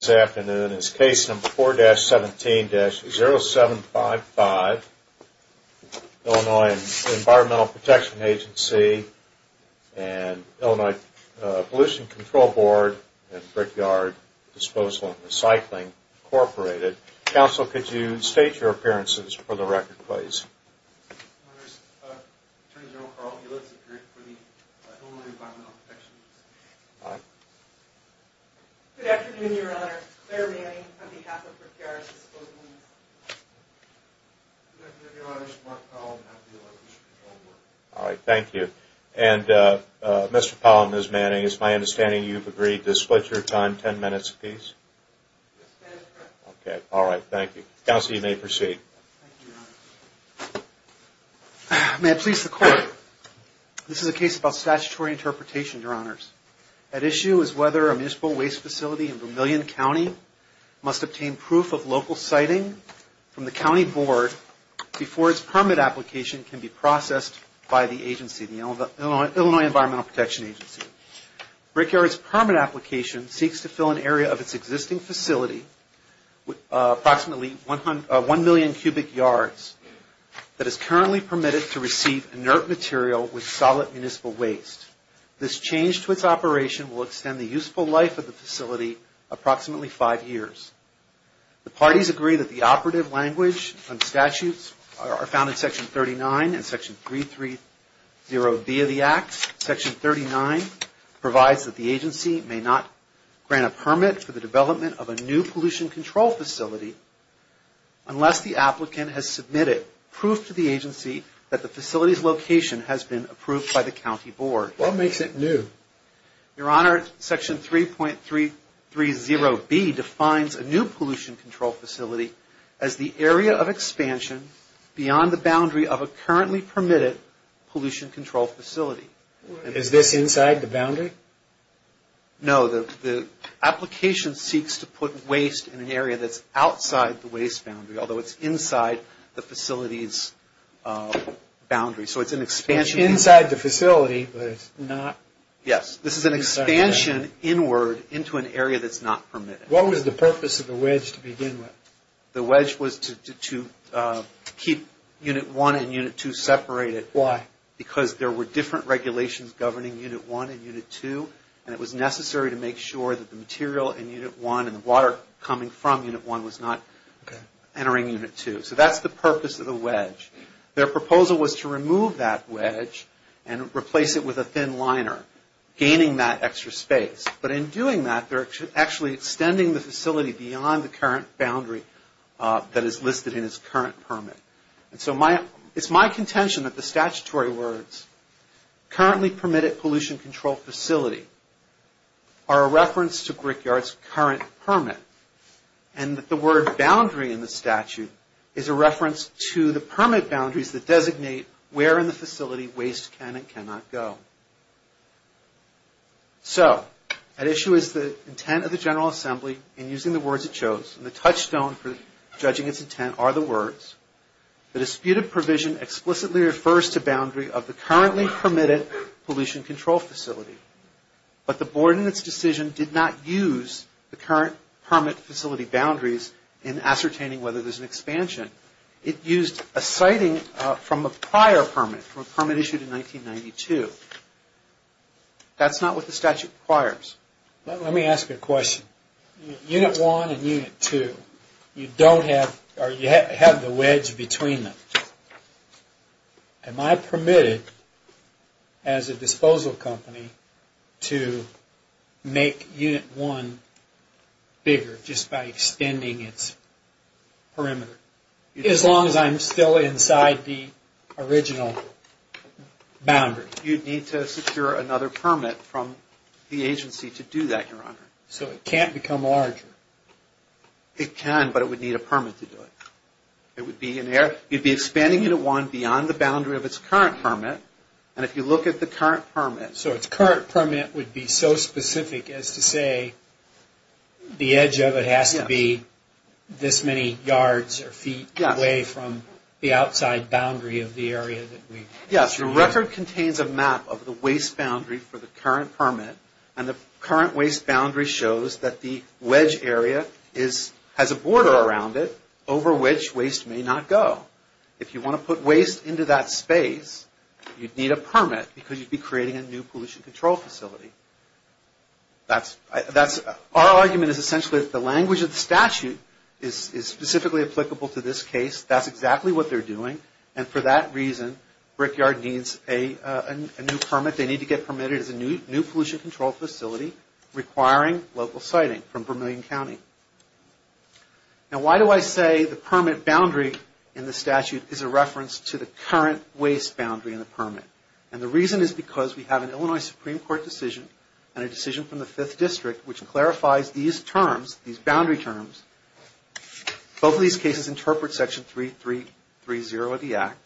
This afternoon is case number 4-17-0755, Illinois Environmental Protection Agency and Illinois Pollution Control Board and Brickyard Disposal and Recycling Incorporated. Counsel, could you state your appearances for the record, please? My name is Attorney General Carl Gillespie for the Illinois Environmental Protection Agency. Hi. Good afternoon, Your Honor. Claire Manning on behalf of Brickyard Disposal and Recycling Incorporated. Good afternoon, Your Honor. Mark Powell on behalf of the Illinois Pollution Control Board. All right. Thank you. And Mr. Powell and Ms. Manning, it's my understanding you've agreed to split your time ten minutes apiece? Yes, Your Honor. Okay. All right. Thank you. Counsel, you may proceed. Thank you, Your Honor. May it please the Court, this is a case about statutory interpretation, Your Honors. At issue is whether a municipal waste facility in Vermillion County must obtain proof of local siting from the County Board before its permit application can be processed by the agency, the Illinois Environmental Protection Agency. Brickyard's permit application seeks to fill an area of its existing facility, approximately 1 million cubic yards, that is currently permitted to receive inert material with solid municipal waste. This change to its operation will extend the useful life of the facility approximately five years. The parties agree that the operative language and statutes are found in Section 39 and Section 330B of the Act. provides that the agency may not grant a permit for the development of a new pollution control facility unless the applicant has submitted proof to the agency that the facility's location has been approved by the County Board. What makes it new? Your Honor, Section 3.330B defines a new pollution control facility as the area of expansion beyond the boundary of a currently permitted pollution control facility. Is this inside the boundary? No, the application seeks to put waste in an area that's outside the waste boundary, although it's inside the facility's boundary. So it's an expansion... Inside the facility, but it's not... Yes, this is an expansion inward into an area that's not permitted. What was the purpose of the wedge to begin with? The wedge was to keep Unit 1 and Unit 2 separated. Why? Because there were different regulations governing Unit 1 and Unit 2, and it was necessary to make sure that the material in Unit 1 and the water coming from Unit 1 was not entering Unit 2. So that's the purpose of the wedge. Their proposal was to remove that wedge and replace it with a thin liner, gaining that extra space. But in doing that, they're actually extending the facility beyond the current boundary that is listed in its current permit. It's my contention that the statutory words, currently permitted pollution control facility, are a reference to Brickyard's current permit, and that the word boundary in the statute is a reference to the permit boundaries that designate where in the facility waste can and cannot go. So, at issue is the intent of the General Assembly in using the words it chose, and the touchstone for judging its intent are the words. The disputed provision explicitly refers to boundary of the currently permitted pollution control facility, but the board in its decision did not use the current permit facility boundaries in ascertaining whether there's an expansion. It used a sighting from a prior permit, from a permit issued in 1992. That's not what the statute requires. Let me ask you a question. Unit 1 and Unit 2, you don't have, or you have the wedge between them. Am I permitted, as a disposal company, to make Unit 1 bigger just by extending its perimeter? As long as I'm still inside the original boundary. You'd need to secure another permit from the agency to do that, Your Honor. So it can't become larger? It can, but it would need a permit to do it. It would be expanding Unit 1 beyond the boundary of its current permit, and if you look at the current permit... So its current permit would be so specific as to say the edge of it has to be this many yards or feet away from the outside boundary of the area that we... Yes, your record contains a map of the waste boundary for the current permit, and the current waste boundary shows that the wedge area has a border around it over which waste may not go. If you want to put waste into that space, you'd need a permit because you'd be creating a new pollution control facility. Our argument is essentially that the language of the statute is specifically applicable to this case. That's exactly what they're doing, and for that reason, Brickyard needs a new permit. They need to get permitted as a new pollution control facility requiring local siting from Vermilion County. Now why do I say the permit boundary in the statute is a reference to the current waste boundary in the permit? And the reason is because we have an Illinois Supreme Court decision and a decision from the Fifth District which clarifies these terms, these boundary terms. Both of these cases interpret Section 3330 of the Act.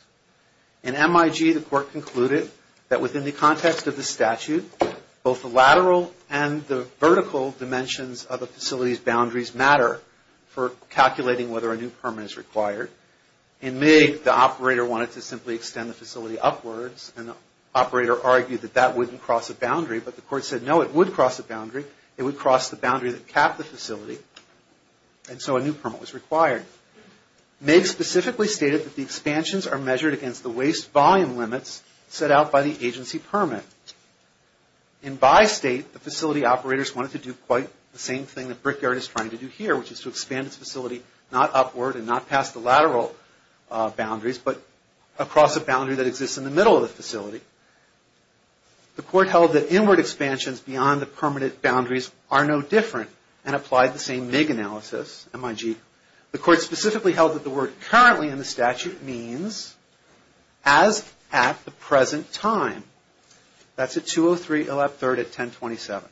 In MIG, the court concluded that within the context of the statute, both the lateral and the vertical dimensions of the facility's boundaries matter for calculating whether a new permit is required. In MIG, the operator wanted to simply extend the facility upwards, and the operator argued that that wouldn't cross a boundary, but the court said no, it would cross a boundary. It would cross the boundary that capped the facility, and so a new permit was required. In MIG, MIG specifically stated that the expansions are measured against the waste volume limits set out by the agency permit. In Bi-State, the facility operators wanted to do quite the same thing that Brickyard is trying to do here, which is to expand its facility not upward and not past the lateral boundaries, but across a boundary that exists in the middle of the facility. The court held that inward expansions beyond the permanent boundaries are no different, and applied the same MIG analysis, M-I-G. The court specifically held that the word currently in the statute means as at the present time. That's at 2-0-3-11-3 at 10-27.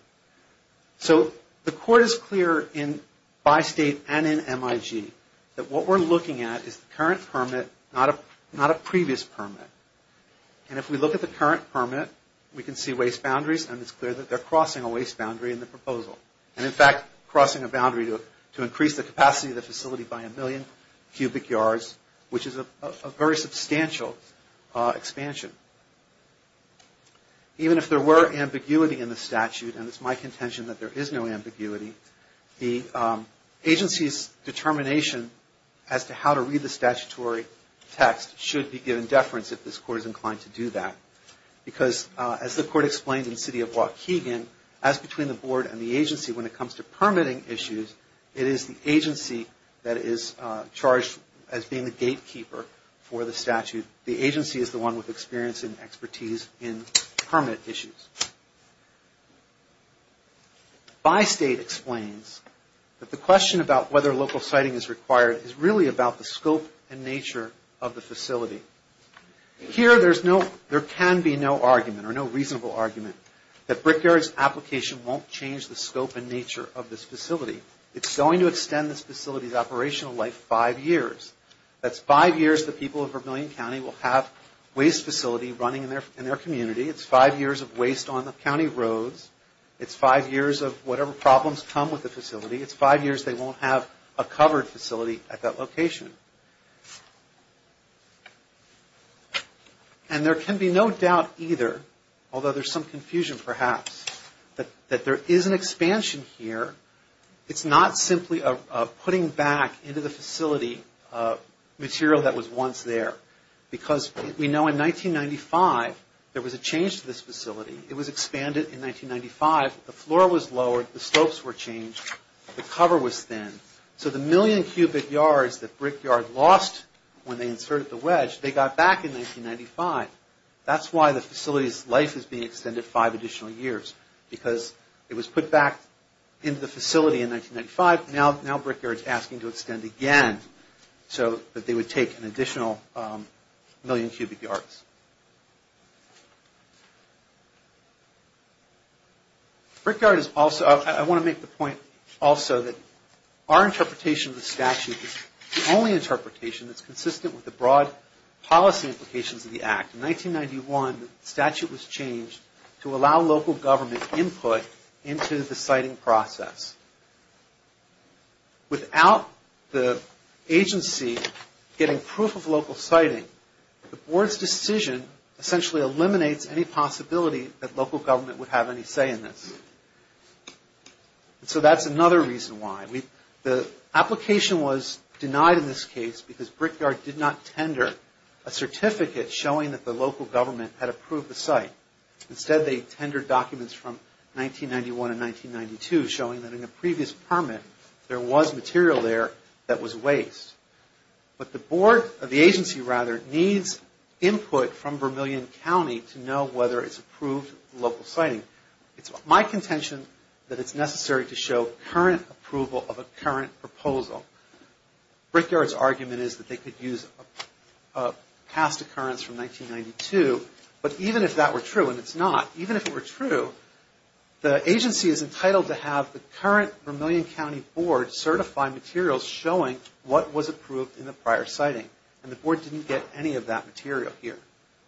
So the court is clear in Bi-State and in MIG that what we're looking at is the current permit, not a previous permit. And if we look at the current permit, we can see waste boundaries, and it's clear that they're crossing a waste boundary in the proposal. And in fact, crossing a boundary to increase the capacity of the facility by a million cubic yards, which is a very substantial expansion. Even if there were ambiguity in the statute, and it's my contention that there is no ambiguity, the agency's determination as to how to read the statutory text should be given deference if this court is inclined to do that. Because as the court explained in the city of Waukegan, as between the board and the agency when it comes to permitting issues, it is the agency that is charged as being the gatekeeper for the statute. The agency is the one with experience and expertise in permit issues. Bi-State explains that the question about whether local siting is required is really about the scope and nature of the facility. Here, there can be no argument or no reasonable argument that Brickyard's application won't change the scope and nature of this facility. It's going to extend this facility's operational life five years. That's five years the people of Vermilion County will have waste facility running in their community. It's five years of waste on the county roads. It's five years of whatever problems come with the facility. It's five years they won't have a covered facility at that location. And there can be no doubt either, although there's some confusion perhaps, that there is an expansion here. It's not simply a putting back into the facility material that was once there. Because we know in 1995 there was a change to this facility. It was expanded in 1995. The floor was lowered. The slopes were changed. The cover was thin. So the million cubic yards that Brickyard lost when they inserted the wedge, they got back in 1995. That's why the facility's life is being extended five additional years. Because it was put back into the facility in 1995. Now Brickyard's asking to extend again so that they would take an additional million cubic yards. I want to make the point also that our interpretation of the statute is the only interpretation that's consistent with the broad policy implications of the Act. In 1991 the statute was changed to allow local government input into the siting process. Without the agency getting proof of local siting, the board's decision essentially eliminates any possibility that local government would have any say in this. So that's another reason why. The application was denied in this case because Brickyard did not tender a certificate showing that the local government had approved the site. Instead they tendered documents from 1991 and 1992 showing that in a previous permit there was material there that was waste. But the agency needs input from Vermillion County to know whether it's approved local siting. It's my contention that it's necessary to show current approval of a current proposal. Brickyard's argument is that they could use a past occurrence from 1992. But even if that were true, and it's not, even if it were true, the agency is entitled to have the current Vermillion County board certify materials showing what was approved in the prior siting. And the board didn't get any of that material here.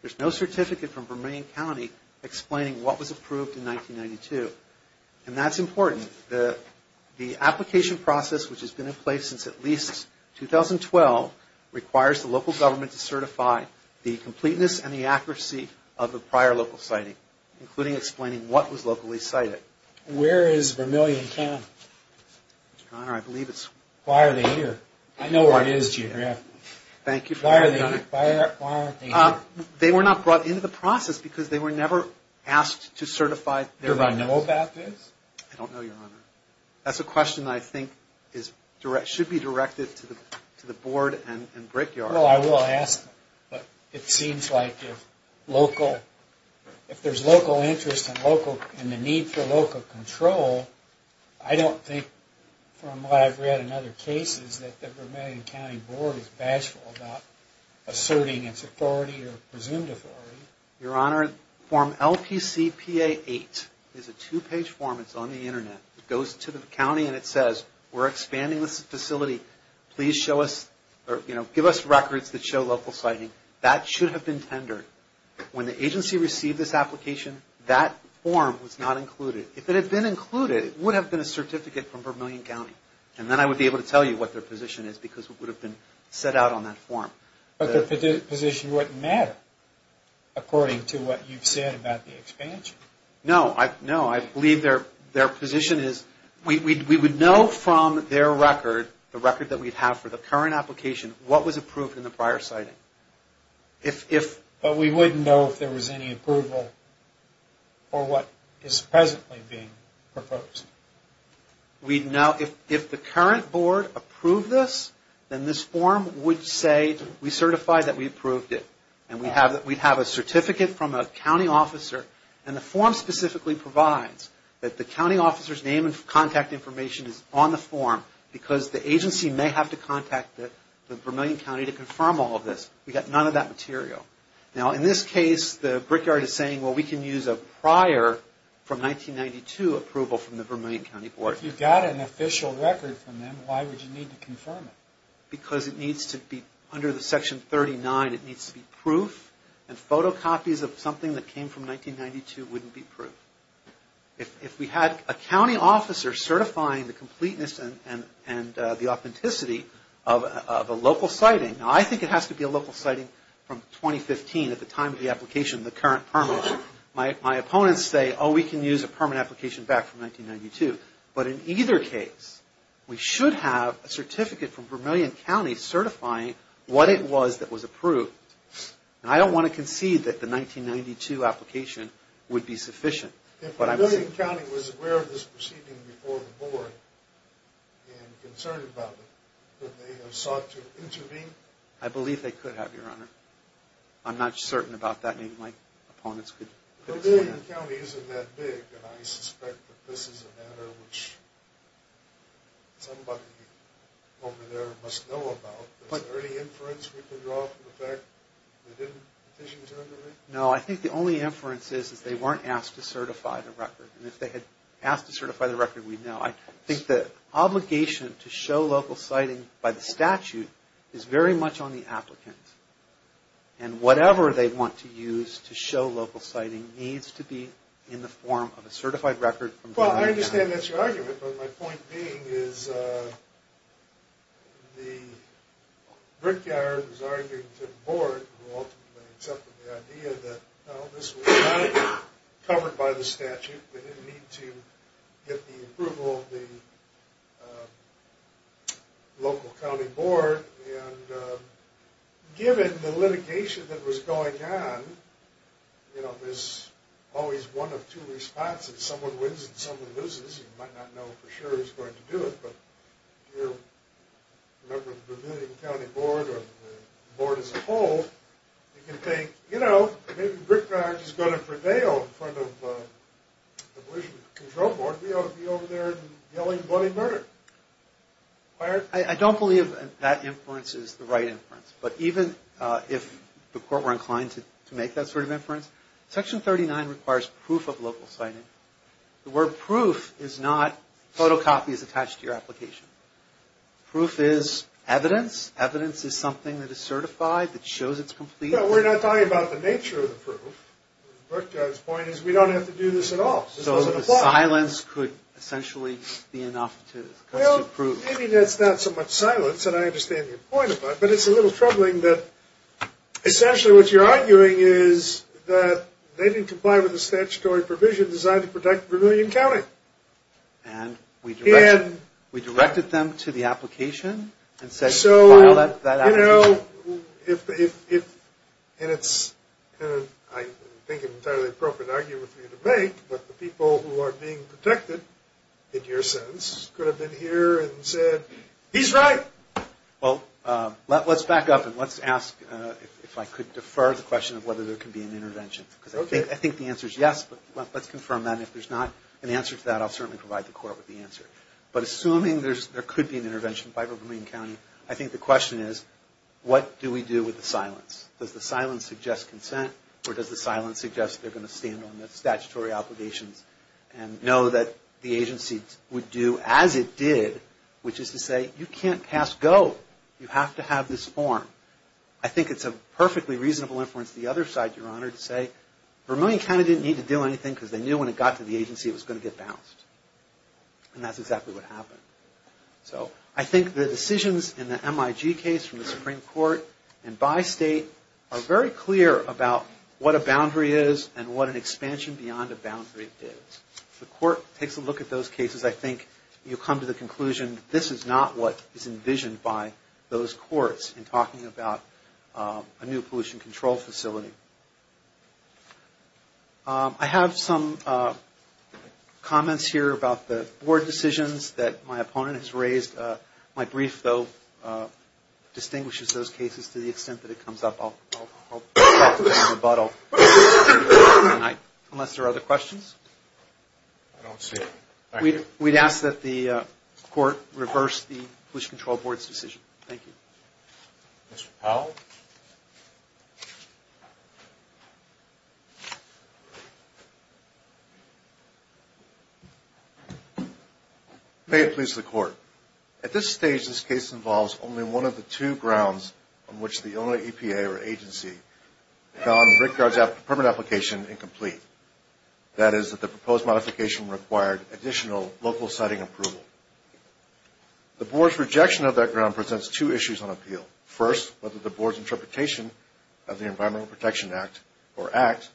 There's no certificate from Vermillion County explaining what was approved in 1992. And that's important. The application process, which has been in place since at least 2012, requires the local government to certify the completeness and the accuracy of the prior local siting, including explaining what was locally sited. Where is Vermillion County? Your Honor, I believe it's... Why are they here? I know where it is, Junior. Thank you for... Why are they here? They were not brought into the process because they were never asked to certify their... Do I know about this? I don't know, Your Honor. That's a question I think should be directed to the board and Brickyard. Well, I will ask them. But it seems like if there's local interest and the need for local control, I don't think, from what I've read in other cases, that the Vermillion County board is bashful about asserting its authority or presumed authority. Your Honor, form LPCPA8 is a two-page form. It's on the Internet. It goes to the county and it says, we're expanding this facility. Please show us or give us records that show local siting. That should have been tendered. When the agency received this application, that form was not included. If it had been included, it would have been a certificate from Vermillion County. And then I would be able to tell you what their position is because it would have been set out on that form. But their position wouldn't matter. According to what you've said about the expansion? No. I believe their position is we would know from their record, the record that we have for the current application, what was approved in the prior siting. But we wouldn't know if there was any approval for what is presently being proposed. We'd know if the current board approved this, then this form would say we certify that we approved it. And we'd have a certificate from a county officer. And the form specifically provides that the county officer's name and contact information is on the form because the agency may have to contact the Vermillion County to confirm all of this. We've got none of that material. Now, in this case, the Brickyard is saying, well, we can use a prior from 1992 approval from the Vermillion County Board. If you got an official record from them, why would you need to confirm it? Because it needs to be under the Section 39. It needs to be proof. And photocopies of something that came from 1992 wouldn't be proof. If we had a county officer certifying the completeness and the authenticity of a local siting, now, I think it has to be a local siting from 2015 at the time of the application, the current permit. My opponents say, oh, we can use a permit application back from 1992. But in either case, we should have a certificate from Vermillion County certifying what it was that was approved. And I don't want to concede that the 1992 application would be sufficient. If Vermillion County was aware of this proceeding before the Board and concerned about it, would they have sought to intervene? I believe they could have, Your Honor. I'm not certain about that. Maybe my opponents could explain that. Vermillion County isn't that big, and I suspect that this is a matter which somebody over there must know about. Is there any inference we can draw from the fact that they didn't petition to intervene? No, I think the only inference is that they weren't asked to certify the record. And if they had asked to certify the record, we'd know. I think the obligation to show local siting by the statute is very much on the applicant. And whatever they want to use to show local siting needs to be in the form of a certified record from Vermillion County. Well, I understand that's your argument, but my point being is the brickyard was arguing to the Board, who ultimately accepted the idea that this was not covered by the statute. They didn't need to get the approval of the local county board. And given the litigation that was going on, you know, there's always one of two responses. Someone wins and someone loses. You might not know for sure who's going to do it. But if you're a member of the Vermillion County Board or the Board as a whole, you can think, you know, maybe the brickyard is going to prevail in front of the control board. We ought to be over there yelling bloody murder. I don't believe that inference is the right inference. But even if the court were inclined to make that sort of inference, Section 39 requires proof of local siting. The word proof is not photocopies attached to your application. Proof is evidence. Evidence is something that is certified, that shows it's complete. No, we're not talking about the nature of the proof. The brickyard's point is we don't have to do this at all. So the silence could essentially be enough to prove. Well, maybe that's not so much silence, and I understand your point about it, but it's a little troubling that essentially what you're arguing is that they didn't comply with the statutory provision designed to protect Vermillion County. And we directed them to the application and said file that application. So, you know, and it's, I think, an entirely appropriate argument for you to make, but the people who are being protected, in your sense, could have been here and said, he's right. Well, let's back up and let's ask if I could defer the question of whether there could be an intervention. Because I think the answer is yes, but let's confirm that. And if there's not an answer to that, I'll certainly provide the court with the answer. But assuming there could be an intervention by Vermillion County, I think the question is, what do we do with the silence? Does the silence suggest consent, or does the silence suggest they're going to stand on their statutory obligations and know that the agency would do as it did, which is to say, you can't pass go. You have to have this form. I think it's a perfectly reasonable inference to the other side, Your Honor, to say, Vermillion County didn't need to do anything because they knew when it got to the agency it was going to get bounced. And that's exactly what happened. So I think the decisions in the MIG case from the Supreme Court and by state are very clear about what a boundary is and what an expansion beyond a boundary is. If the court takes a look at those cases, I think you'll come to the conclusion this is not what is envisioned by those courts in talking about a new pollution control facility. I have some comments here about the board decisions that my opponent has raised. My brief, though, distinguishes those cases to the extent that it comes up. I'll talk about it in rebuttal unless there are other questions. I don't see it. We'd ask that the court reverse the Pollution Control Board's decision. Thank you. Mr. Powell? May it please the Court. At this stage, this case involves only one of the two grounds on which the Illinois EPA or agency found Rickard's permit application incomplete. That is that the proposed modification required additional local siting approval. The board's rejection of that ground presents two issues on appeal. First, whether the board's interpretation of the Environmental Protection Act or Act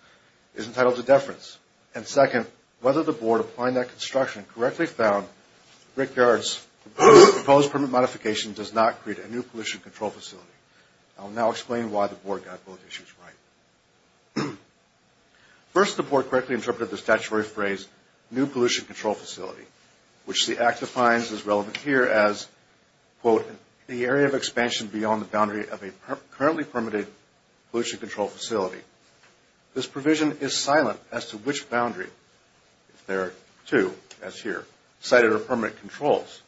is entitled to deference. And second, whether the board applying that construction correctly found Rickard's proposed permit modification does not create a new pollution control facility. I'll now explain why the board got both issues right. First, the board correctly interpreted the statutory phrase, new pollution control facility, which the Act defines as relevant here as, quote, the area of expansion beyond the boundary of a currently permitted pollution control facility. This provision is silent as to which boundary, if there are two, as here, cited are permanent controls.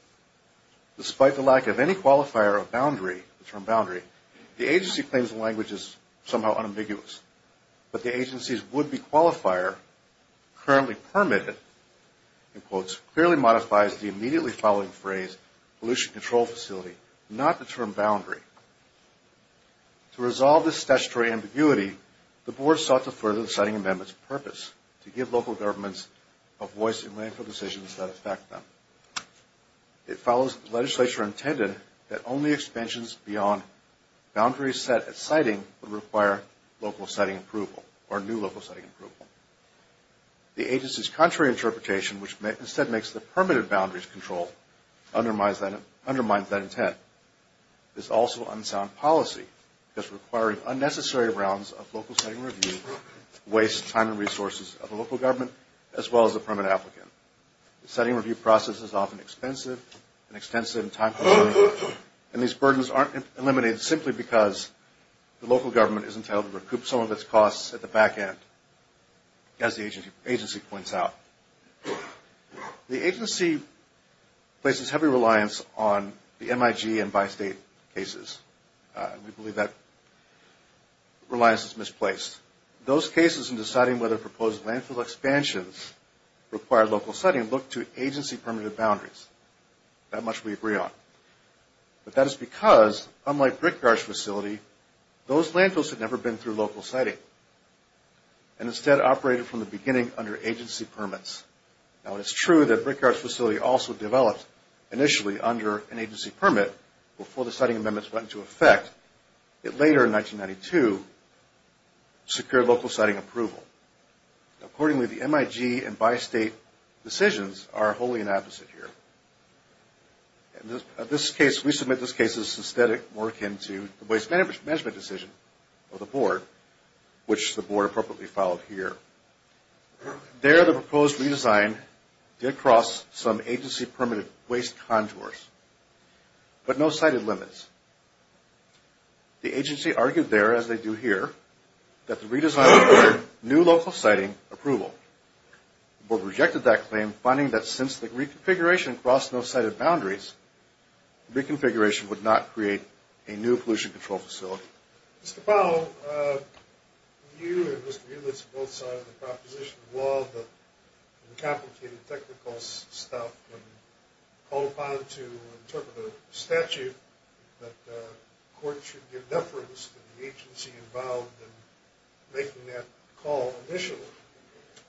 Despite the lack of any qualifier of boundary, the term boundary, the agency claims the language is somehow unambiguous. But the agency's would-be qualifier, currently permitted, in quotes, clearly modifies the immediately following phrase, pollution control facility, not the term boundary. To resolve this statutory ambiguity, the board sought to further the siting amendment's purpose, to give local governments a voice in making decisions that affect them. It follows the legislature intended that only expansions beyond boundaries set at siting would require local siting approval, or new local siting approval. The agency's contrary interpretation, which instead makes the permitted boundaries control, undermines that intent. This also unsound policy, thus requiring unnecessary rounds of local siting review, wastes time and resources of the local government, as well as the permanent applicant. The siting review process is often expensive and extensive and time-consuming, and these burdens aren't eliminated simply because the local government is entitled to recoup some of its costs at the back end, as the agency points out. The agency places heavy reliance on the MIG and bi-state cases. We believe that reliance is misplaced. Those cases in deciding whether proposed landfill expansions require local siting look to agency-permitted boundaries. That much we agree on. But that is because, unlike Brickyard's facility, those landfills had never been through local siting, and instead operated from the beginning under agency permits. Now, it's true that Brickyard's facility also developed initially under an agency permit before the siting amendments went into effect. It later, in 1992, secured local siting approval. Accordingly, the MIG and bi-state decisions are wholly inopposite here. In this case, we submit this case as systhetic, more akin to the waste management decision of the board, which the board appropriately followed here. There, the proposed redesign did cross some agency-permitted waste contours, but no sited limits. The agency argued there, as they do here, that the redesign required new local siting approval. The board rejected that claim, finding that since the reconfiguration crossed no sited boundaries, the reconfiguration would not create a new pollution control facility. Mr. Powell, you and Mr. Eulitz both signed the proposition of law, the complicated technical stuff, and called upon to interpret a statute that the court should give deference to the agency involved in making that call initially.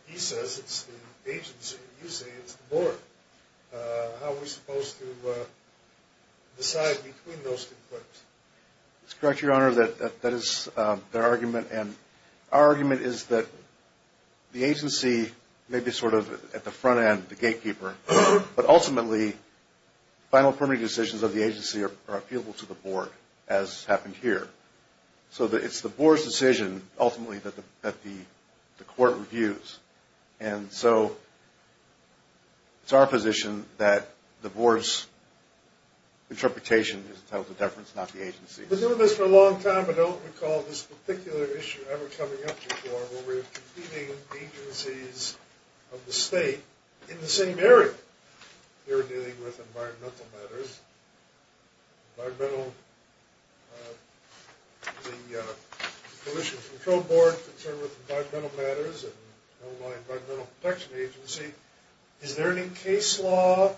He says it's the agency, and you say it's the board. How are we supposed to decide between those two claims? It's correct, Your Honor, that that is their argument, and our argument is that the agency may be sort of at the front end, the gatekeeper, but ultimately, final permitting decisions of the agency are appealable to the board, as happened here. So it's the board's decision, ultimately, that the court reviews. And so it's our position that the board's interpretation is to tell the deference, not the agency's. We've been doing this for a long time, but I don't recall this particular issue ever coming up before, where we're competing agencies of the state in the same area. You're dealing with environmental matters. Environmental, the Pollution Control Board is concerned with environmental matters, and Illinois Environmental Protection Agency. Is there any case law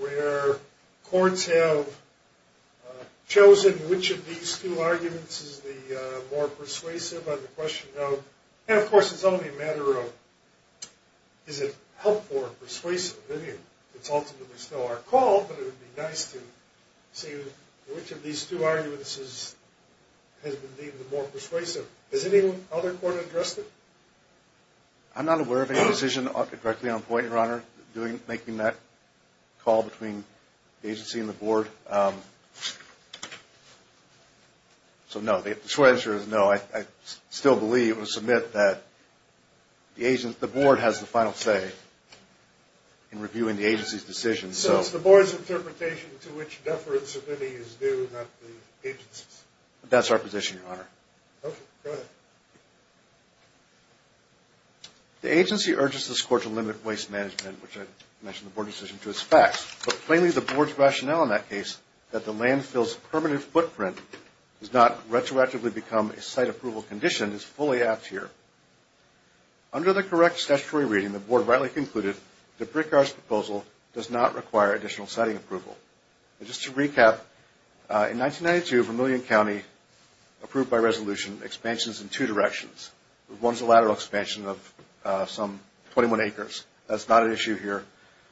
where courts have chosen which of these two arguments is the more persuasive? And, of course, it's only a matter of is it helpful or persuasive. It's ultimately still our call, but it would be nice to see which of these two arguments has been deemed the more persuasive. Has any other court addressed it? I'm not aware of any decision directly on point, Your Honor, making that call between the agency and the board. So, no, the short answer is no. I still believe, or submit, that the board has the final say in reviewing the agency's decision. So it's the board's interpretation to which deference is due, not the agency's? That's our position, Your Honor. Okay, go ahead. The agency urges this court to limit waste management, which I mentioned in the board decision, to its facts. But, plainly, the board's rationale in that case, that the landfill's permanent footprint has not retroactively become a site approval condition, is fully apt here. Under the correct statutory reading, the board rightly concluded that Brickyard's proposal does not require additional siting approval. Just to recap, in 1992, Vermillion County approved by resolution expansions in two directions. One is a lateral expansion of some 21 acres. That's not an issue here.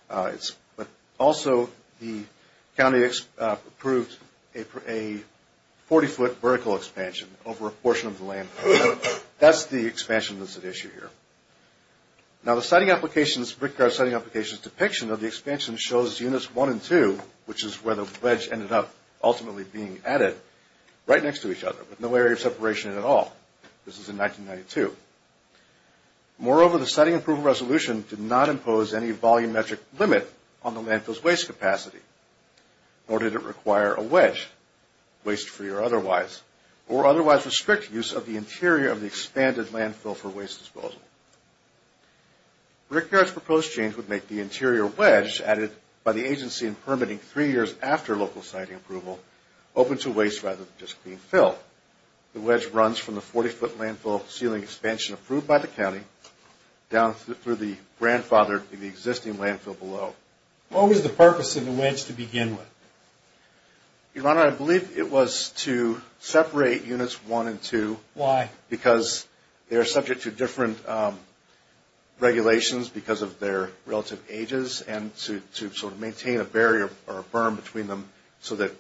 But, also, the county approved a 40-foot vertical expansion over a portion of the land. That's the expansion that's at issue here. Now, the siting applications, Brickyard's siting applications depiction of the expansion shows units one and two, which is where the wedge ended up ultimately being added, right next to each other, with no area of separation at all. This is in 1992. Moreover, the siting approval resolution did not impose any volumetric limit on the landfill's waste capacity, nor did it require a wedge, waste-free or otherwise, or otherwise restrict use of the interior of the expanded landfill for waste disposal. Brickyard's proposed change would make the interior wedge added by the agency in permitting three years after local siting approval open to waste rather than just clean fill. The wedge runs from the 40-foot landfill ceiling expansion approved by the county down through the grandfathered, existing landfill below. What was the purpose of the wedge to begin with? Your Honor, I believe it was to separate units one and two. Why? Because they are subject to different regulations because of their relative ages, and to sort of maintain a barrier or a berm between them so that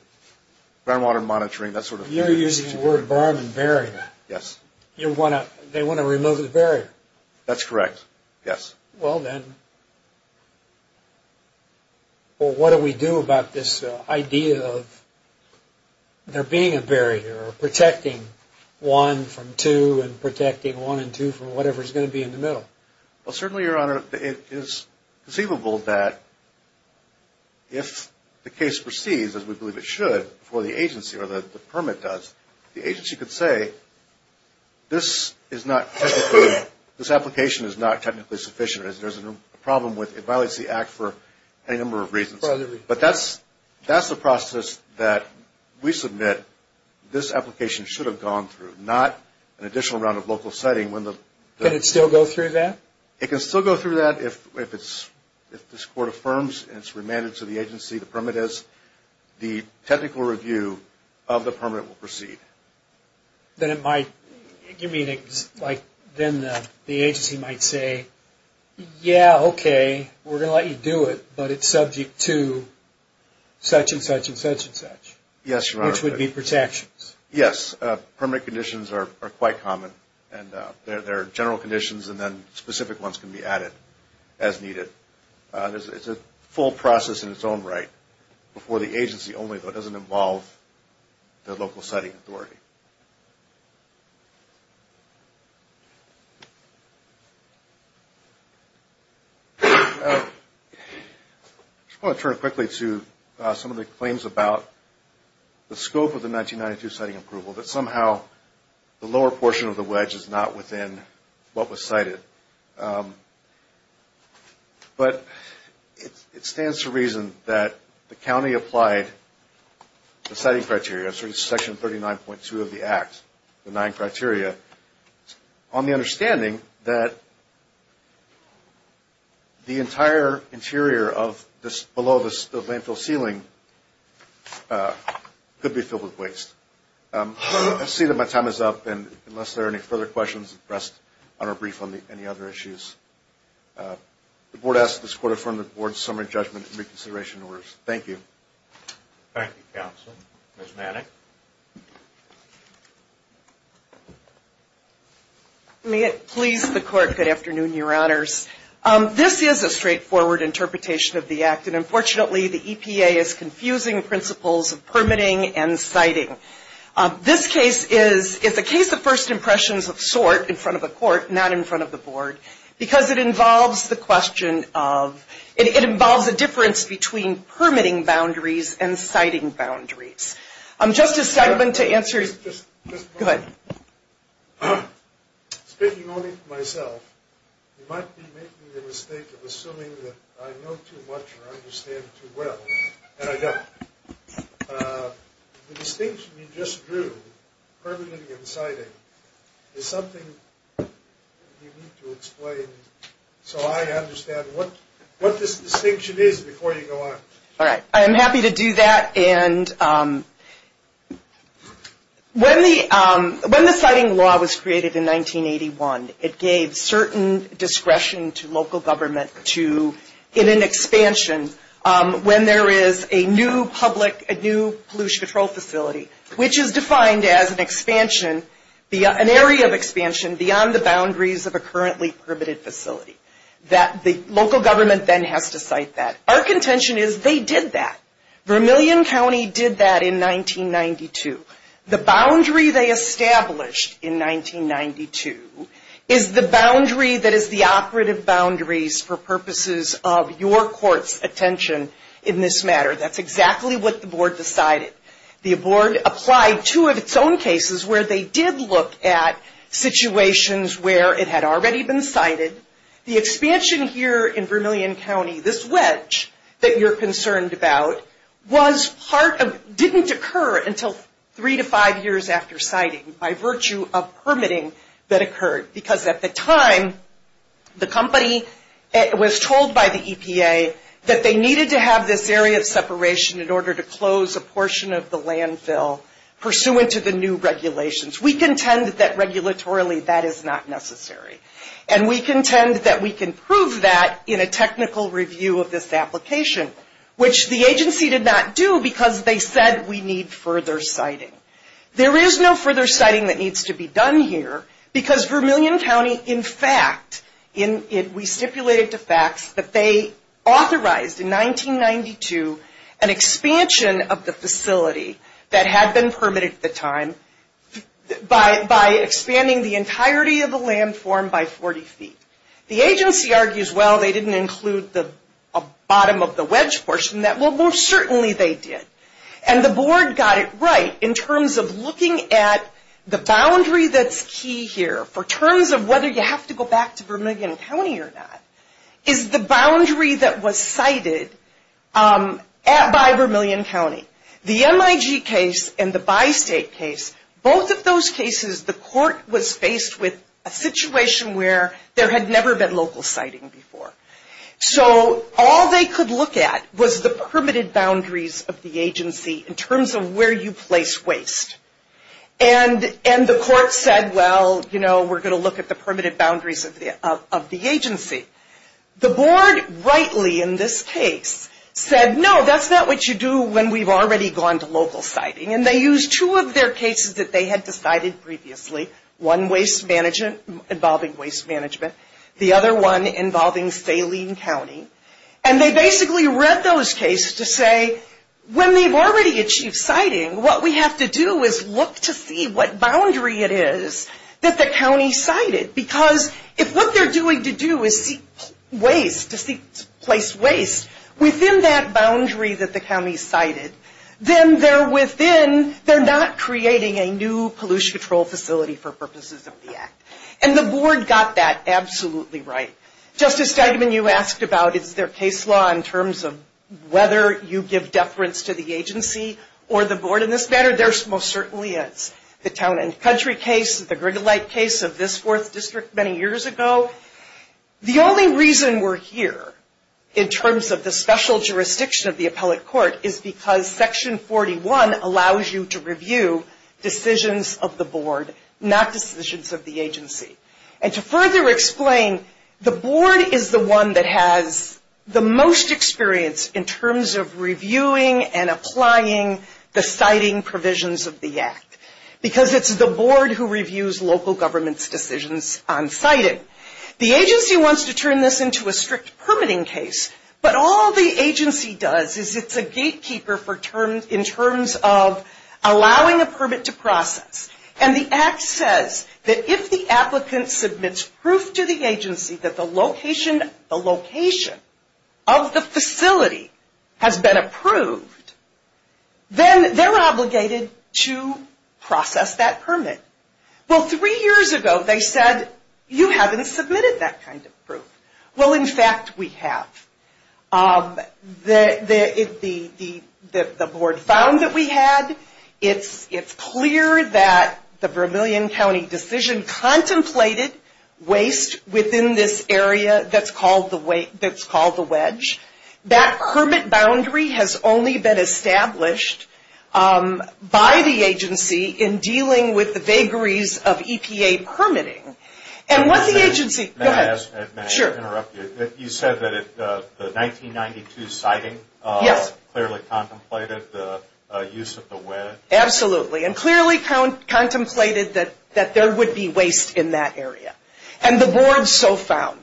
groundwater monitoring, that sort of thing. You're using the word berm and barrier. Yes. They want to remove the barrier. That's correct, yes. Well, then, what do we do about this idea of there being a barrier or protecting one from two and protecting one and two from whatever's going to be in the middle? Well, certainly, Your Honor, it is conceivable that if the case proceeds as we believe it should, for the agency or the permit does, the agency could say this is not technically, this application is not technically sufficient. There's a problem with it violates the act for any number of reasons. But that's the process that we submit this application should have gone through, not an additional round of local siting. Can it still go through that? It can still go through that if this court affirms and it's remanded to the agency, the permit is. The technical review of the permit will proceed. Then it might, you mean like then the agency might say, yeah, okay, we're going to let you do it, but it's subject to such and such and such and such. Yes, Your Honor. Which would be protections. Yes. Permit conditions are quite common. And there are general conditions and then specific ones can be added as needed. It's a full process in its own right. For the agency only, though, it doesn't involve the local siting authority. I just want to turn quickly to some of the claims about the scope of the 1992 siting approval, that somehow the lower portion of the wedge is not within what was cited. But it stands to reason that the county applied the siting criteria, section 39.2 of the act, the nine criteria, on the understanding that the entire interior below the landfill ceiling could be filled with waste. I see that my time is up. And unless there are any further questions, we'll rest on our brief on any other issues. The Board asks that this Court affirm the Board's summary judgment and reconsideration orders. Thank you. Thank you, Counsel. Ms. Manning. May it please the Court, good afternoon, Your Honors. This is a straightforward interpretation of the act. And unfortunately, the EPA is confusing principles of permitting and siting. This case is a case of first impressions of sort in front of the Court, not in front of the Board, because it involves the question of, it involves a difference between permitting boundaries and siting boundaries. Just a segment to answer. Go ahead. Speaking only for myself, you might be making the mistake of assuming that I know too much or understand too well, and I don't. The distinction you just drew, permitting and siting, is something you need to explain so I understand what this distinction is before you go on. All right. I am happy to do that. And when the siting law was created in 1981, it gave certain discretion to local government to, in an expansion, when there is a new public, a new pollution control facility, which is defined as an expansion, an area of expansion beyond the boundaries of a currently permitted facility, that the local government then has to cite that. Our contention is they did that. Vermilion County did that in 1992. The boundary they established in 1992 is the boundary that is the operative boundaries for purposes of your Court's attention in this matter. That's exactly what the Board decided. The Board applied two of its own cases where they did look at situations where it had already been cited. The expansion here in Vermilion County, this wedge that you're concerned about, didn't occur until three to five years after siting by virtue of permitting that occurred. Because at the time, the company was told by the EPA that they needed to have this area of separation in order to close a portion of the landfill pursuant to the new regulations. We contend that, regulatorily, that is not necessary. And we contend that we can prove that in a technical review of this application, which the agency did not do because they said we need further citing. There is no further citing that needs to be done here because Vermilion County, in fact, we stipulated to FACTS that they authorized, in 1992, an expansion of the facility that had been permitted at the time by expanding the entirety of the landform by 40 feet. The agency argues, well, they didn't include the bottom of the wedge portion. Well, most certainly they did. And the Board got it right in terms of looking at the boundary that's key here, for terms of whether you have to go back to Vermilion County or not, is the boundary that was cited by Vermilion County. The MIG case and the bi-state case, both of those cases the court was faced with a situation where there had never been local citing before. So all they could look at was the permitted boundaries of the agency in terms of where you place waste. And the court said, well, you know, we're going to look at the permitted boundaries of the agency. The Board, rightly in this case, said, no, that's not what you do when we've already gone to local citing. And they used two of their cases that they had decided previously, one involving waste management, the other one involving Saline County. And they basically read those cases to say, when they've already achieved citing, what we have to do is look to see what boundary it is that the county cited. Because if what they're doing to do is to place waste within that boundary that the county cited, then they're not creating a new pollution control facility for purposes of the Act. And the Board got that absolutely right. Justice Steigman, you asked about is there case law in terms of whether you give deference to the agency or the Board in this matter. There most certainly is. The Town and Country case, the Grigolite case of this fourth district many years ago. The only reason we're here in terms of the special jurisdiction of the Appellate Court is because Section 41 allows you to review decisions of the Board, not decisions of the agency. And to further explain, the Board is the one that has the most experience in terms of reviewing and applying the citing provisions of the Act. Because it's the Board who reviews local government's decisions on citing. The agency wants to turn this into a strict permitting case, but all the agency does is it's a gatekeeper in terms of allowing a permit to process. And the Act says that if the applicant submits proof to the agency that the location of the facility has been approved, then they're obligated to process that permit. Well, three years ago they said, you haven't submitted that kind of proof. Well, in fact, we have. The Board found that we had. It's clear that the Vermilion County decision contemplated waste within this area that's called the wedge. That permit boundary has only been established by the agency in dealing with the vagaries of EPA permitting. And what the agency... Go ahead. Sure. You said that the 1992 citing clearly contemplated the use of the wedge? Absolutely. And clearly contemplated that there would be waste in that area. And the Board so found.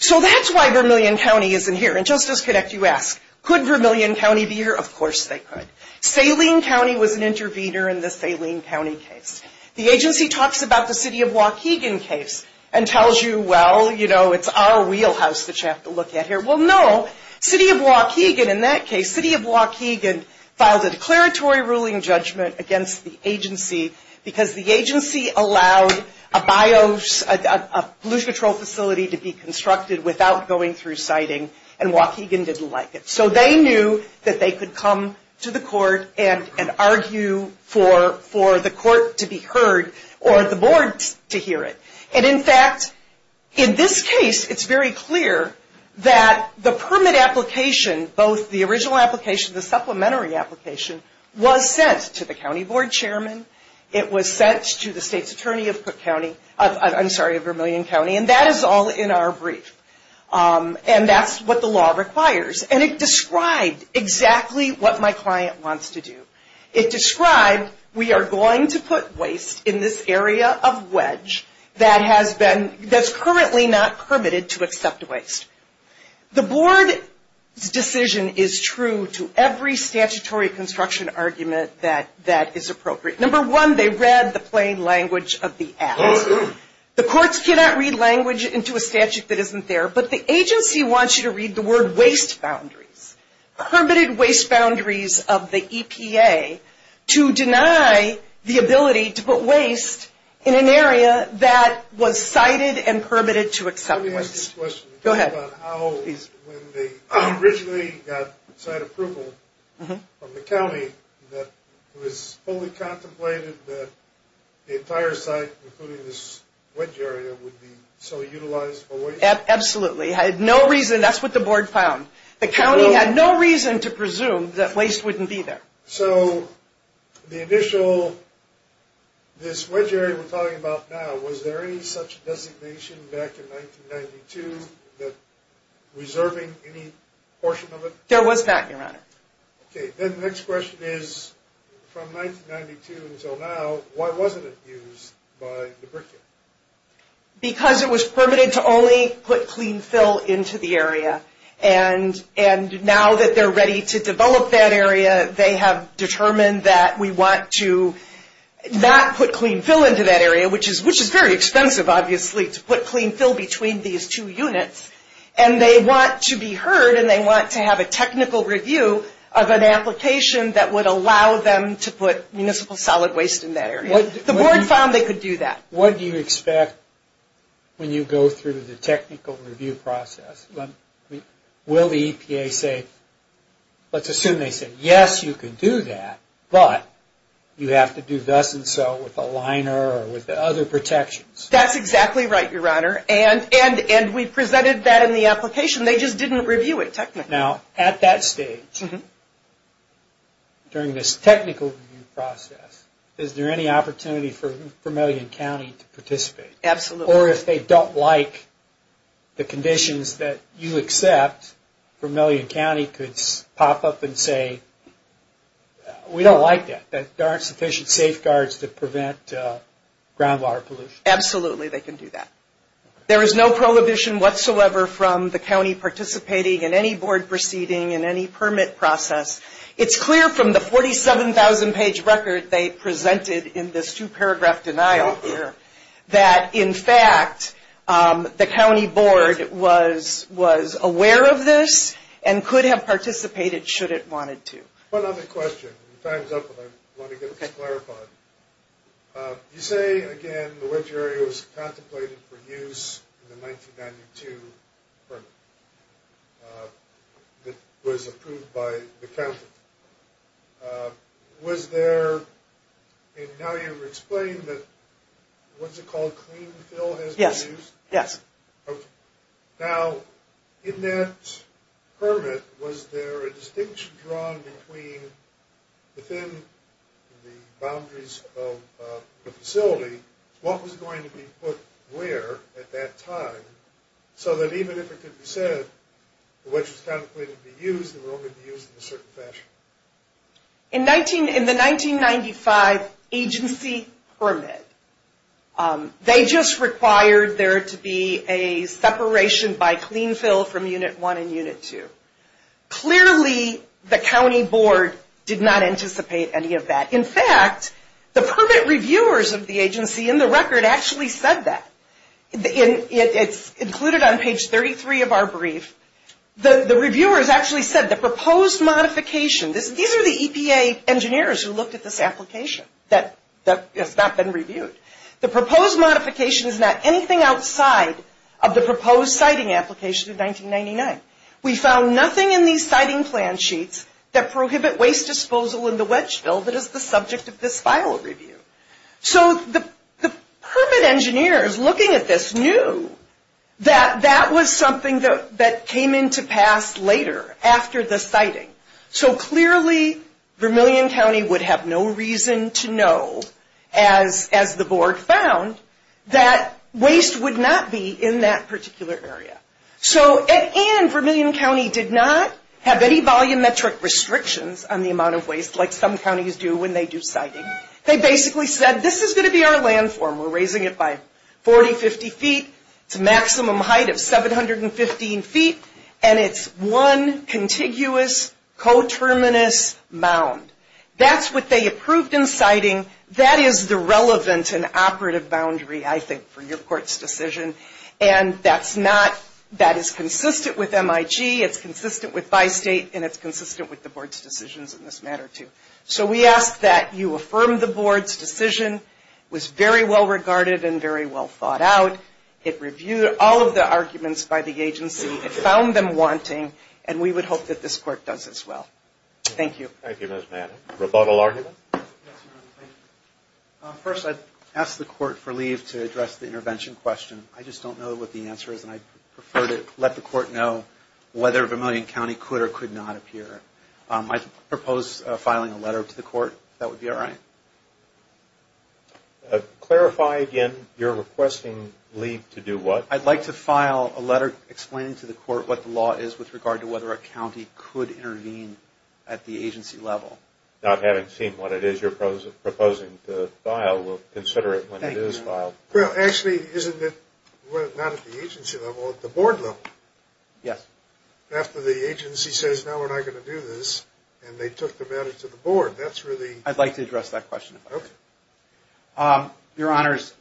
So that's why Vermilion County isn't here. And just as connect you ask, could Vermilion County be here? Of course they could. Saline County was an intervener in the Saline County case. The agency talks about the City of Waukegan case and tells you, well, you know, it's our wheelhouse that you have to look at here. Well, no. City of Waukegan in that case, City of Waukegan filed a declaratory ruling judgment against the agency because the agency allowed a bios, a pollution control facility to be constructed without going through citing, and Waukegan didn't like it. So they knew that they could come to the court and argue for the court to be heard or the Board to hear it. And, in fact, in this case, it's very clear that the permit application, both the original application, and the supplementary application, was sent to the County Board Chairman. It was sent to the State's Attorney of Vermilion County, and that is all in our brief. And that's what the law requires. And it described exactly what my client wants to do. It described we are going to put waste in this area of wedge that has been, that's currently not permitted to accept waste. The Board's decision is true to every statutory construction argument that is appropriate. Number one, they read the plain language of the act. The courts cannot read language into a statute that isn't there, but the agency wants you to read the word waste boundaries, permitted waste boundaries of the EPA, to deny the ability to put waste in an area that was cited and permitted to accept waste. I have this question. Go ahead. How, when they originally got site approval from the county, that it was fully contemplated that the entire site, including this wedge area, would be so utilized for waste? Absolutely. Had no reason, that's what the Board found. The county had no reason to presume that waste wouldn't be there. So, the initial, this wedge area we're talking about now, was there any such designation back in 1992, that reserving any portion of it? There was that, Your Honor. Okay, then the next question is, from 1992 until now, why wasn't it used by lubricant? Because it was permitted to only put clean fill into the area. And now that they're ready to develop that area, they have determined that we want to not put clean fill into that area, which is very expensive, obviously, to put clean fill between these two units. And they want to be heard, and they want to have a technical review of an application that would allow them to put municipal solid waste in that area. The Board found they could do that. What do you expect when you go through the technical review process? Will the EPA say, let's assume they say, yes, you can do that, but you have to do thus and so with the liner or with the other protections? That's exactly right, Your Honor. And we presented that in the application. They just didn't review it technically. Now, at that stage, during this technical review process, is there any opportunity for Vermilion County to participate? Absolutely. Or if they don't like the conditions that you accept, Vermilion County could pop up and say, we don't like that. There aren't sufficient safeguards to prevent groundwater pollution. Absolutely, they can do that. There is no prohibition whatsoever from the county participating in any board proceeding in any permit process. It's clear from the 47,000-page record they presented in this two-paragraph denial here that, in fact, the county board was aware of this and could have participated should it wanted to. One other question. Time's up and I want to get this clarified. You say, again, the wedge area was contemplated for use in the 1992 permit that was approved by the county. Was there, and now you've explained that, what's it called, clean fill has been used? Yes. Okay. Now, in that permit, was there a distinction drawn within the boundaries of the facility? What was going to be put where at that time so that even if it could be said the wedge was contemplated to be used, it would only be used in a certain fashion? In the 1995 agency permit, they just required there to be a separation by clean fill from Unit 1 and Unit 2. Clearly, the county board did not anticipate any of that. In fact, the permit reviewers of the agency in the record actually said that. It's included on page 33 of our brief. The reviewers actually said the proposed modification, these are the EPA engineers who looked at this application that has not been reviewed. The proposed modification is not anything outside of the proposed siting application of 1999. We found nothing in these siting plan sheets that prohibit waste disposal in the wedge fill that is the subject of this file review. The permit engineers looking at this knew that that was something that came into pass later after the siting. Clearly, Vermilion County would have no reason to know, as the board found, that waste would not be in that particular area. Vermilion County did not have any volumetric restrictions on the amount of waste like some counties do when they do siting. They basically said, this is going to be our landform. We're raising it by 40, 50 feet. It's a maximum height of 715 feet, and it's one contiguous, coterminous mound. That's what they approved in siting. That is the relevant and operative boundary, I think, for your court's decision, and that is consistent with MIG, it's consistent with bi-state, and it's consistent with the board's decisions in this matter, too. So we ask that you affirm the board's decision. It was very well regarded and very well thought out. It reviewed all of the arguments by the agency. It found them wanting, and we would hope that this court does as well. Thank you. Thank you, Ms. Manning. Rebuttal arguments? First, I'd ask the court for leave to address the intervention question. I just don't know what the answer is, and I'd prefer to let the court know whether Vermilion County could or could not appear. I propose filing a letter to the court, if that would be all right. Clarify again, you're requesting leave to do what? I'd like to file a letter explaining to the court what the law is with regard to whether a county could intervene at the agency level. Not having seen what it is you're proposing to file, we'll consider it when it is filed. Well, actually, isn't it not at the agency level, at the board level? Yes. After the agency says, now we're not going to do this, and they took the matter to the board, that's really… I'd like to address that question. Okay. Your Honors,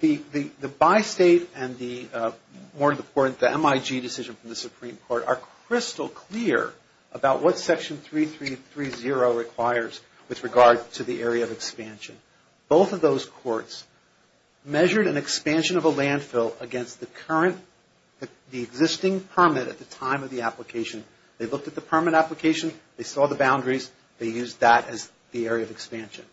the bi-state and the more important, the MIG decision from the Supreme Court, are crystal clear about what Section 3330 requires with regard to the area of expansion. Both of those courts measured an expansion of a landfill against the current, the existing permit at the time of the application. They looked at the permit application, they saw the boundaries, they used that as the area of expansion.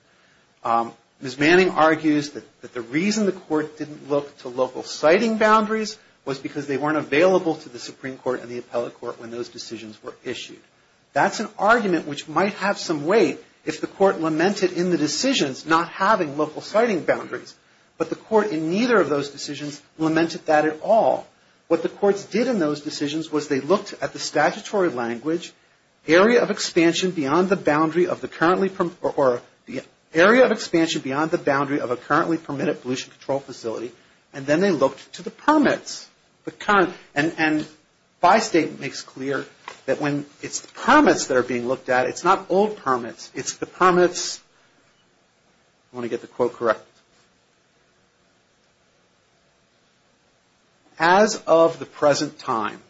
Ms. Manning argues that the reason the court didn't look to local siting boundaries was because they weren't available to the Supreme Court and the appellate court when those decisions were issued. That's an argument which might have some weight if the court lamented in the decisions, not having local siting boundaries. But the court in neither of those decisions lamented that at all. What the courts did in those decisions was they looked at the statutory language, area of expansion beyond the boundary of the currently, or the area of expansion beyond the boundary of a currently permitted pollution control facility, and then they looked to the permits. And bi-state makes clear that when it's the permits that are being looked at, it's not old permits, it's the permits, I want to get the quote correct, as of the present time.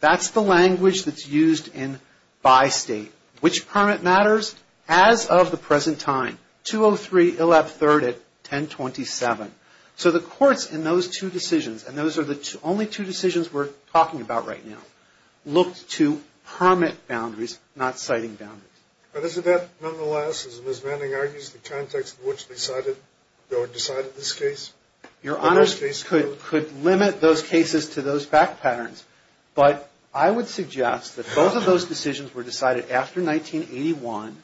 That's the language that's used in bi-state. Which permit matters? As of the present time, 203 Illab 3rd at 1027. So the courts in those two decisions, and those are the only two decisions we're talking about right now, looked to permit boundaries, not siting boundaries. But isn't that nonetheless, as Ms. Manning argues, the context in which they decided this case? Your Honor, could limit those cases to those fact patterns, but I would suggest that both of those decisions were decided after 1981,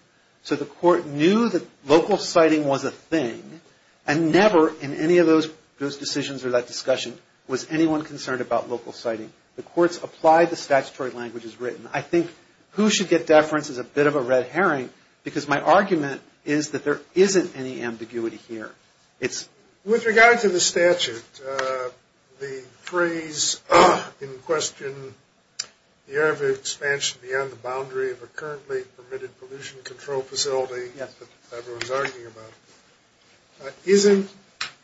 so the court knew that local siting was a thing, and never in any of those decisions or that discussion was anyone concerned about local siting. The courts applied the statutory languages written. I think who should get deference is a bit of a red herring, because my argument is that there isn't any ambiguity here. With regard to the statute, the phrase in question, the area of expansion beyond the boundary of a currently permitted pollution control facility, that everyone's arguing about, isn't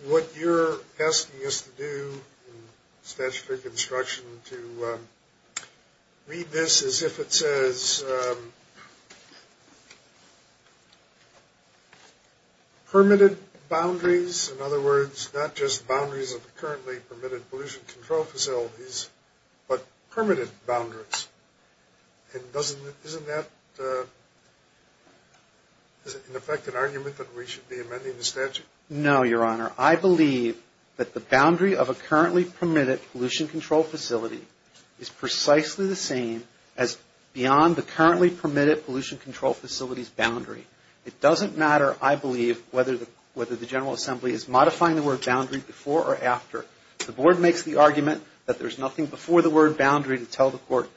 what you're asking us to do in statutory construction to read this as if it says permitted boundaries, in other words, not just boundaries of the currently permitted pollution control facilities, but permitted boundaries. And isn't that in effect an argument that we should be amending the statute? No, Your Honor. I believe that the boundary of a currently permitted pollution control facility is precisely the same as beyond the currently permitted pollution control facility's boundary. It doesn't matter, I believe, whether the General Assembly is modifying the word boundary before or after. The board makes the argument that there's nothing before the word boundary to tell the court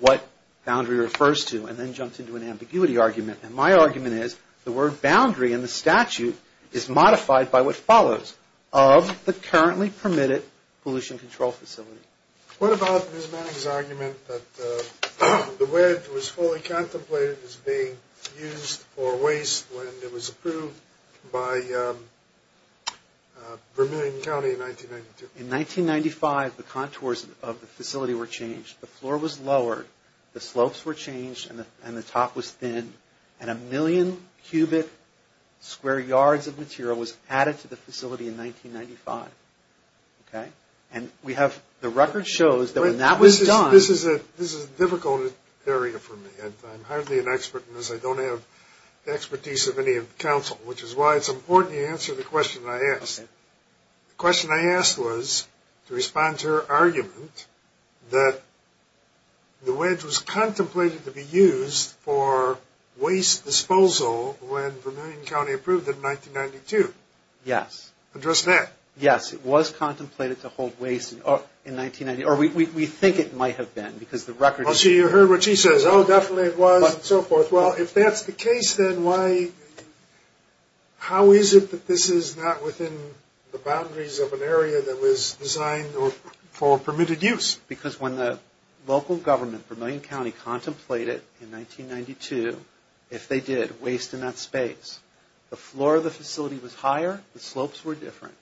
what boundary refers to and then jumps into an ambiguity argument. And my argument is the word boundary in the statute is modified by what follows of the currently permitted pollution control facility. What about Ms. Manning's argument that the word was fully contemplated as being used for waste when it was approved by Vermilion County in 1992? In 1995, the contours of the facility were changed. The floor was lowered, the slopes were changed, and the top was thin, and a million cubic square yards of material was added to the facility in 1995. Okay? And we have the record shows that when that was done... This is a difficult area for me. I'm hardly an expert in this. I don't have the expertise of any council, which is why it's important you answer the question I asked. The question I asked was to respond to her argument that the wedge was contemplated to be used for waste disposal when Vermilion County approved it in 1992. Yes. Address that. Yes, it was contemplated to hold waste in 1990, or we think it might have been because the record... So you heard what she says. Oh, definitely it was, and so forth. Well, if that's the case, then why... How is it that this is not within the boundaries of an area that was designed for permitted use? Because when the local government, Vermilion County, contemplated in 1992, if they did, waste in that space, the floor of the facility was higher, the slopes were different.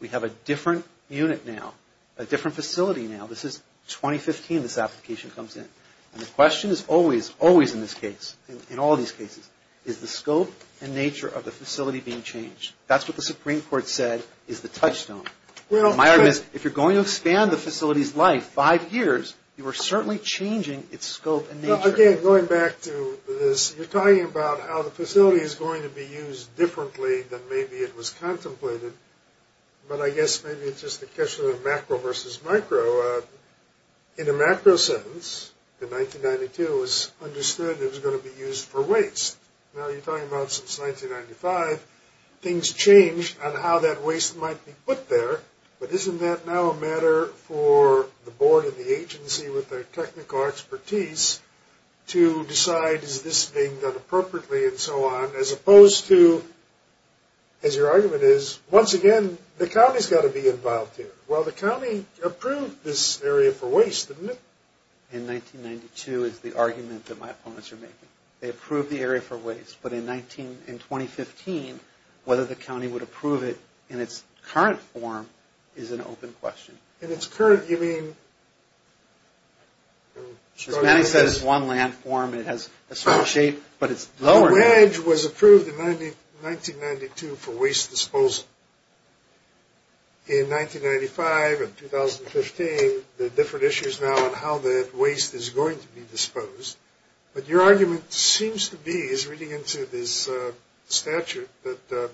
We have a different unit now, a different facility now. This is 2015 this application comes in, and the question is always, always in this case, in all these cases, is the scope and nature of the facility being changed. That's what the Supreme Court said is the touchstone. My argument is if you're going to expand the facility's life five years, you are certainly changing its scope and nature. Again, going back to this, you're talking about how the facility is going to be used differently than maybe it was contemplated, but I guess maybe it's just a question of macro versus micro. In a macro sense, in 1992, it was understood it was going to be used for waste. Now you're talking about since 1995, things changed on how that waste might be put there, but isn't that now a matter for the board and the agency with their technical expertise to decide, is this being done appropriately and so on, as opposed to, as your argument is, once again, the county's got to be involved here. Well, the county approved this area for waste, didn't it? In 1992 is the argument that my opponents are making. They approved the area for waste, but in 2015, whether the county would approve it in its current form is an open question. In its current, you mean? As Manny said, it's one land form. It has a certain shape, but it's lower. The wedge was approved in 1992 for waste disposal. In 1995 and 2015, there are different issues now on how that waste is going to be disposed, but your argument seems to be, as reading into this statute, that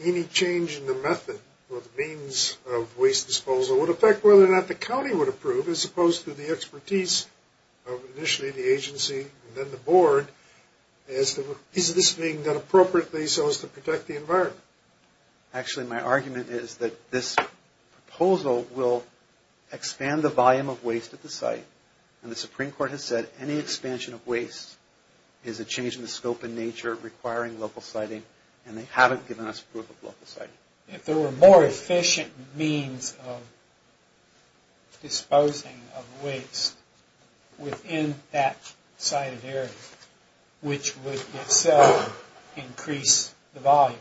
any change in the method or the means of waste disposal would affect whether or not the county would approve, as opposed to the expertise of initially the agency and then the board. Is this being done appropriately so as to protect the environment? Actually, my argument is that this proposal will expand the volume of waste at the site, and the Supreme Court has said any expansion of waste is a change in the scope and nature requiring local siting, and they haven't given us proof of local siting. If there were more efficient means of disposing of waste within that sited area, which would itself increase the volume,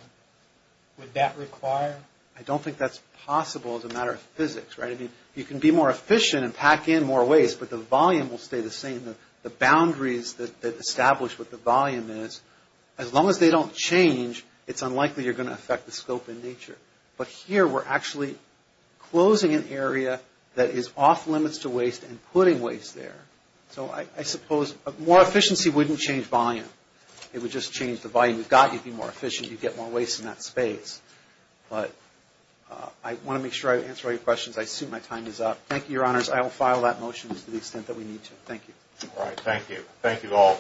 would that require? I don't think that's possible as a matter of physics, right? I mean, you can be more efficient and pack in more waste, but the volume will stay the same. The boundaries that establish what the volume is, as long as they don't change, it's unlikely you're going to affect the scope and nature. But here, we're actually closing an area that is off limits to waste and putting waste there. So I suppose more efficiency wouldn't change volume. It would just change the volume. You've got to be more efficient to get more waste in that space. But I want to make sure I answer all your questions. I assume my time is up. Thank you, Your Honors. I will file that motion to the extent that we need to. Thank you. All right. Thank you. Thank you all. So, ladies and gentlemen.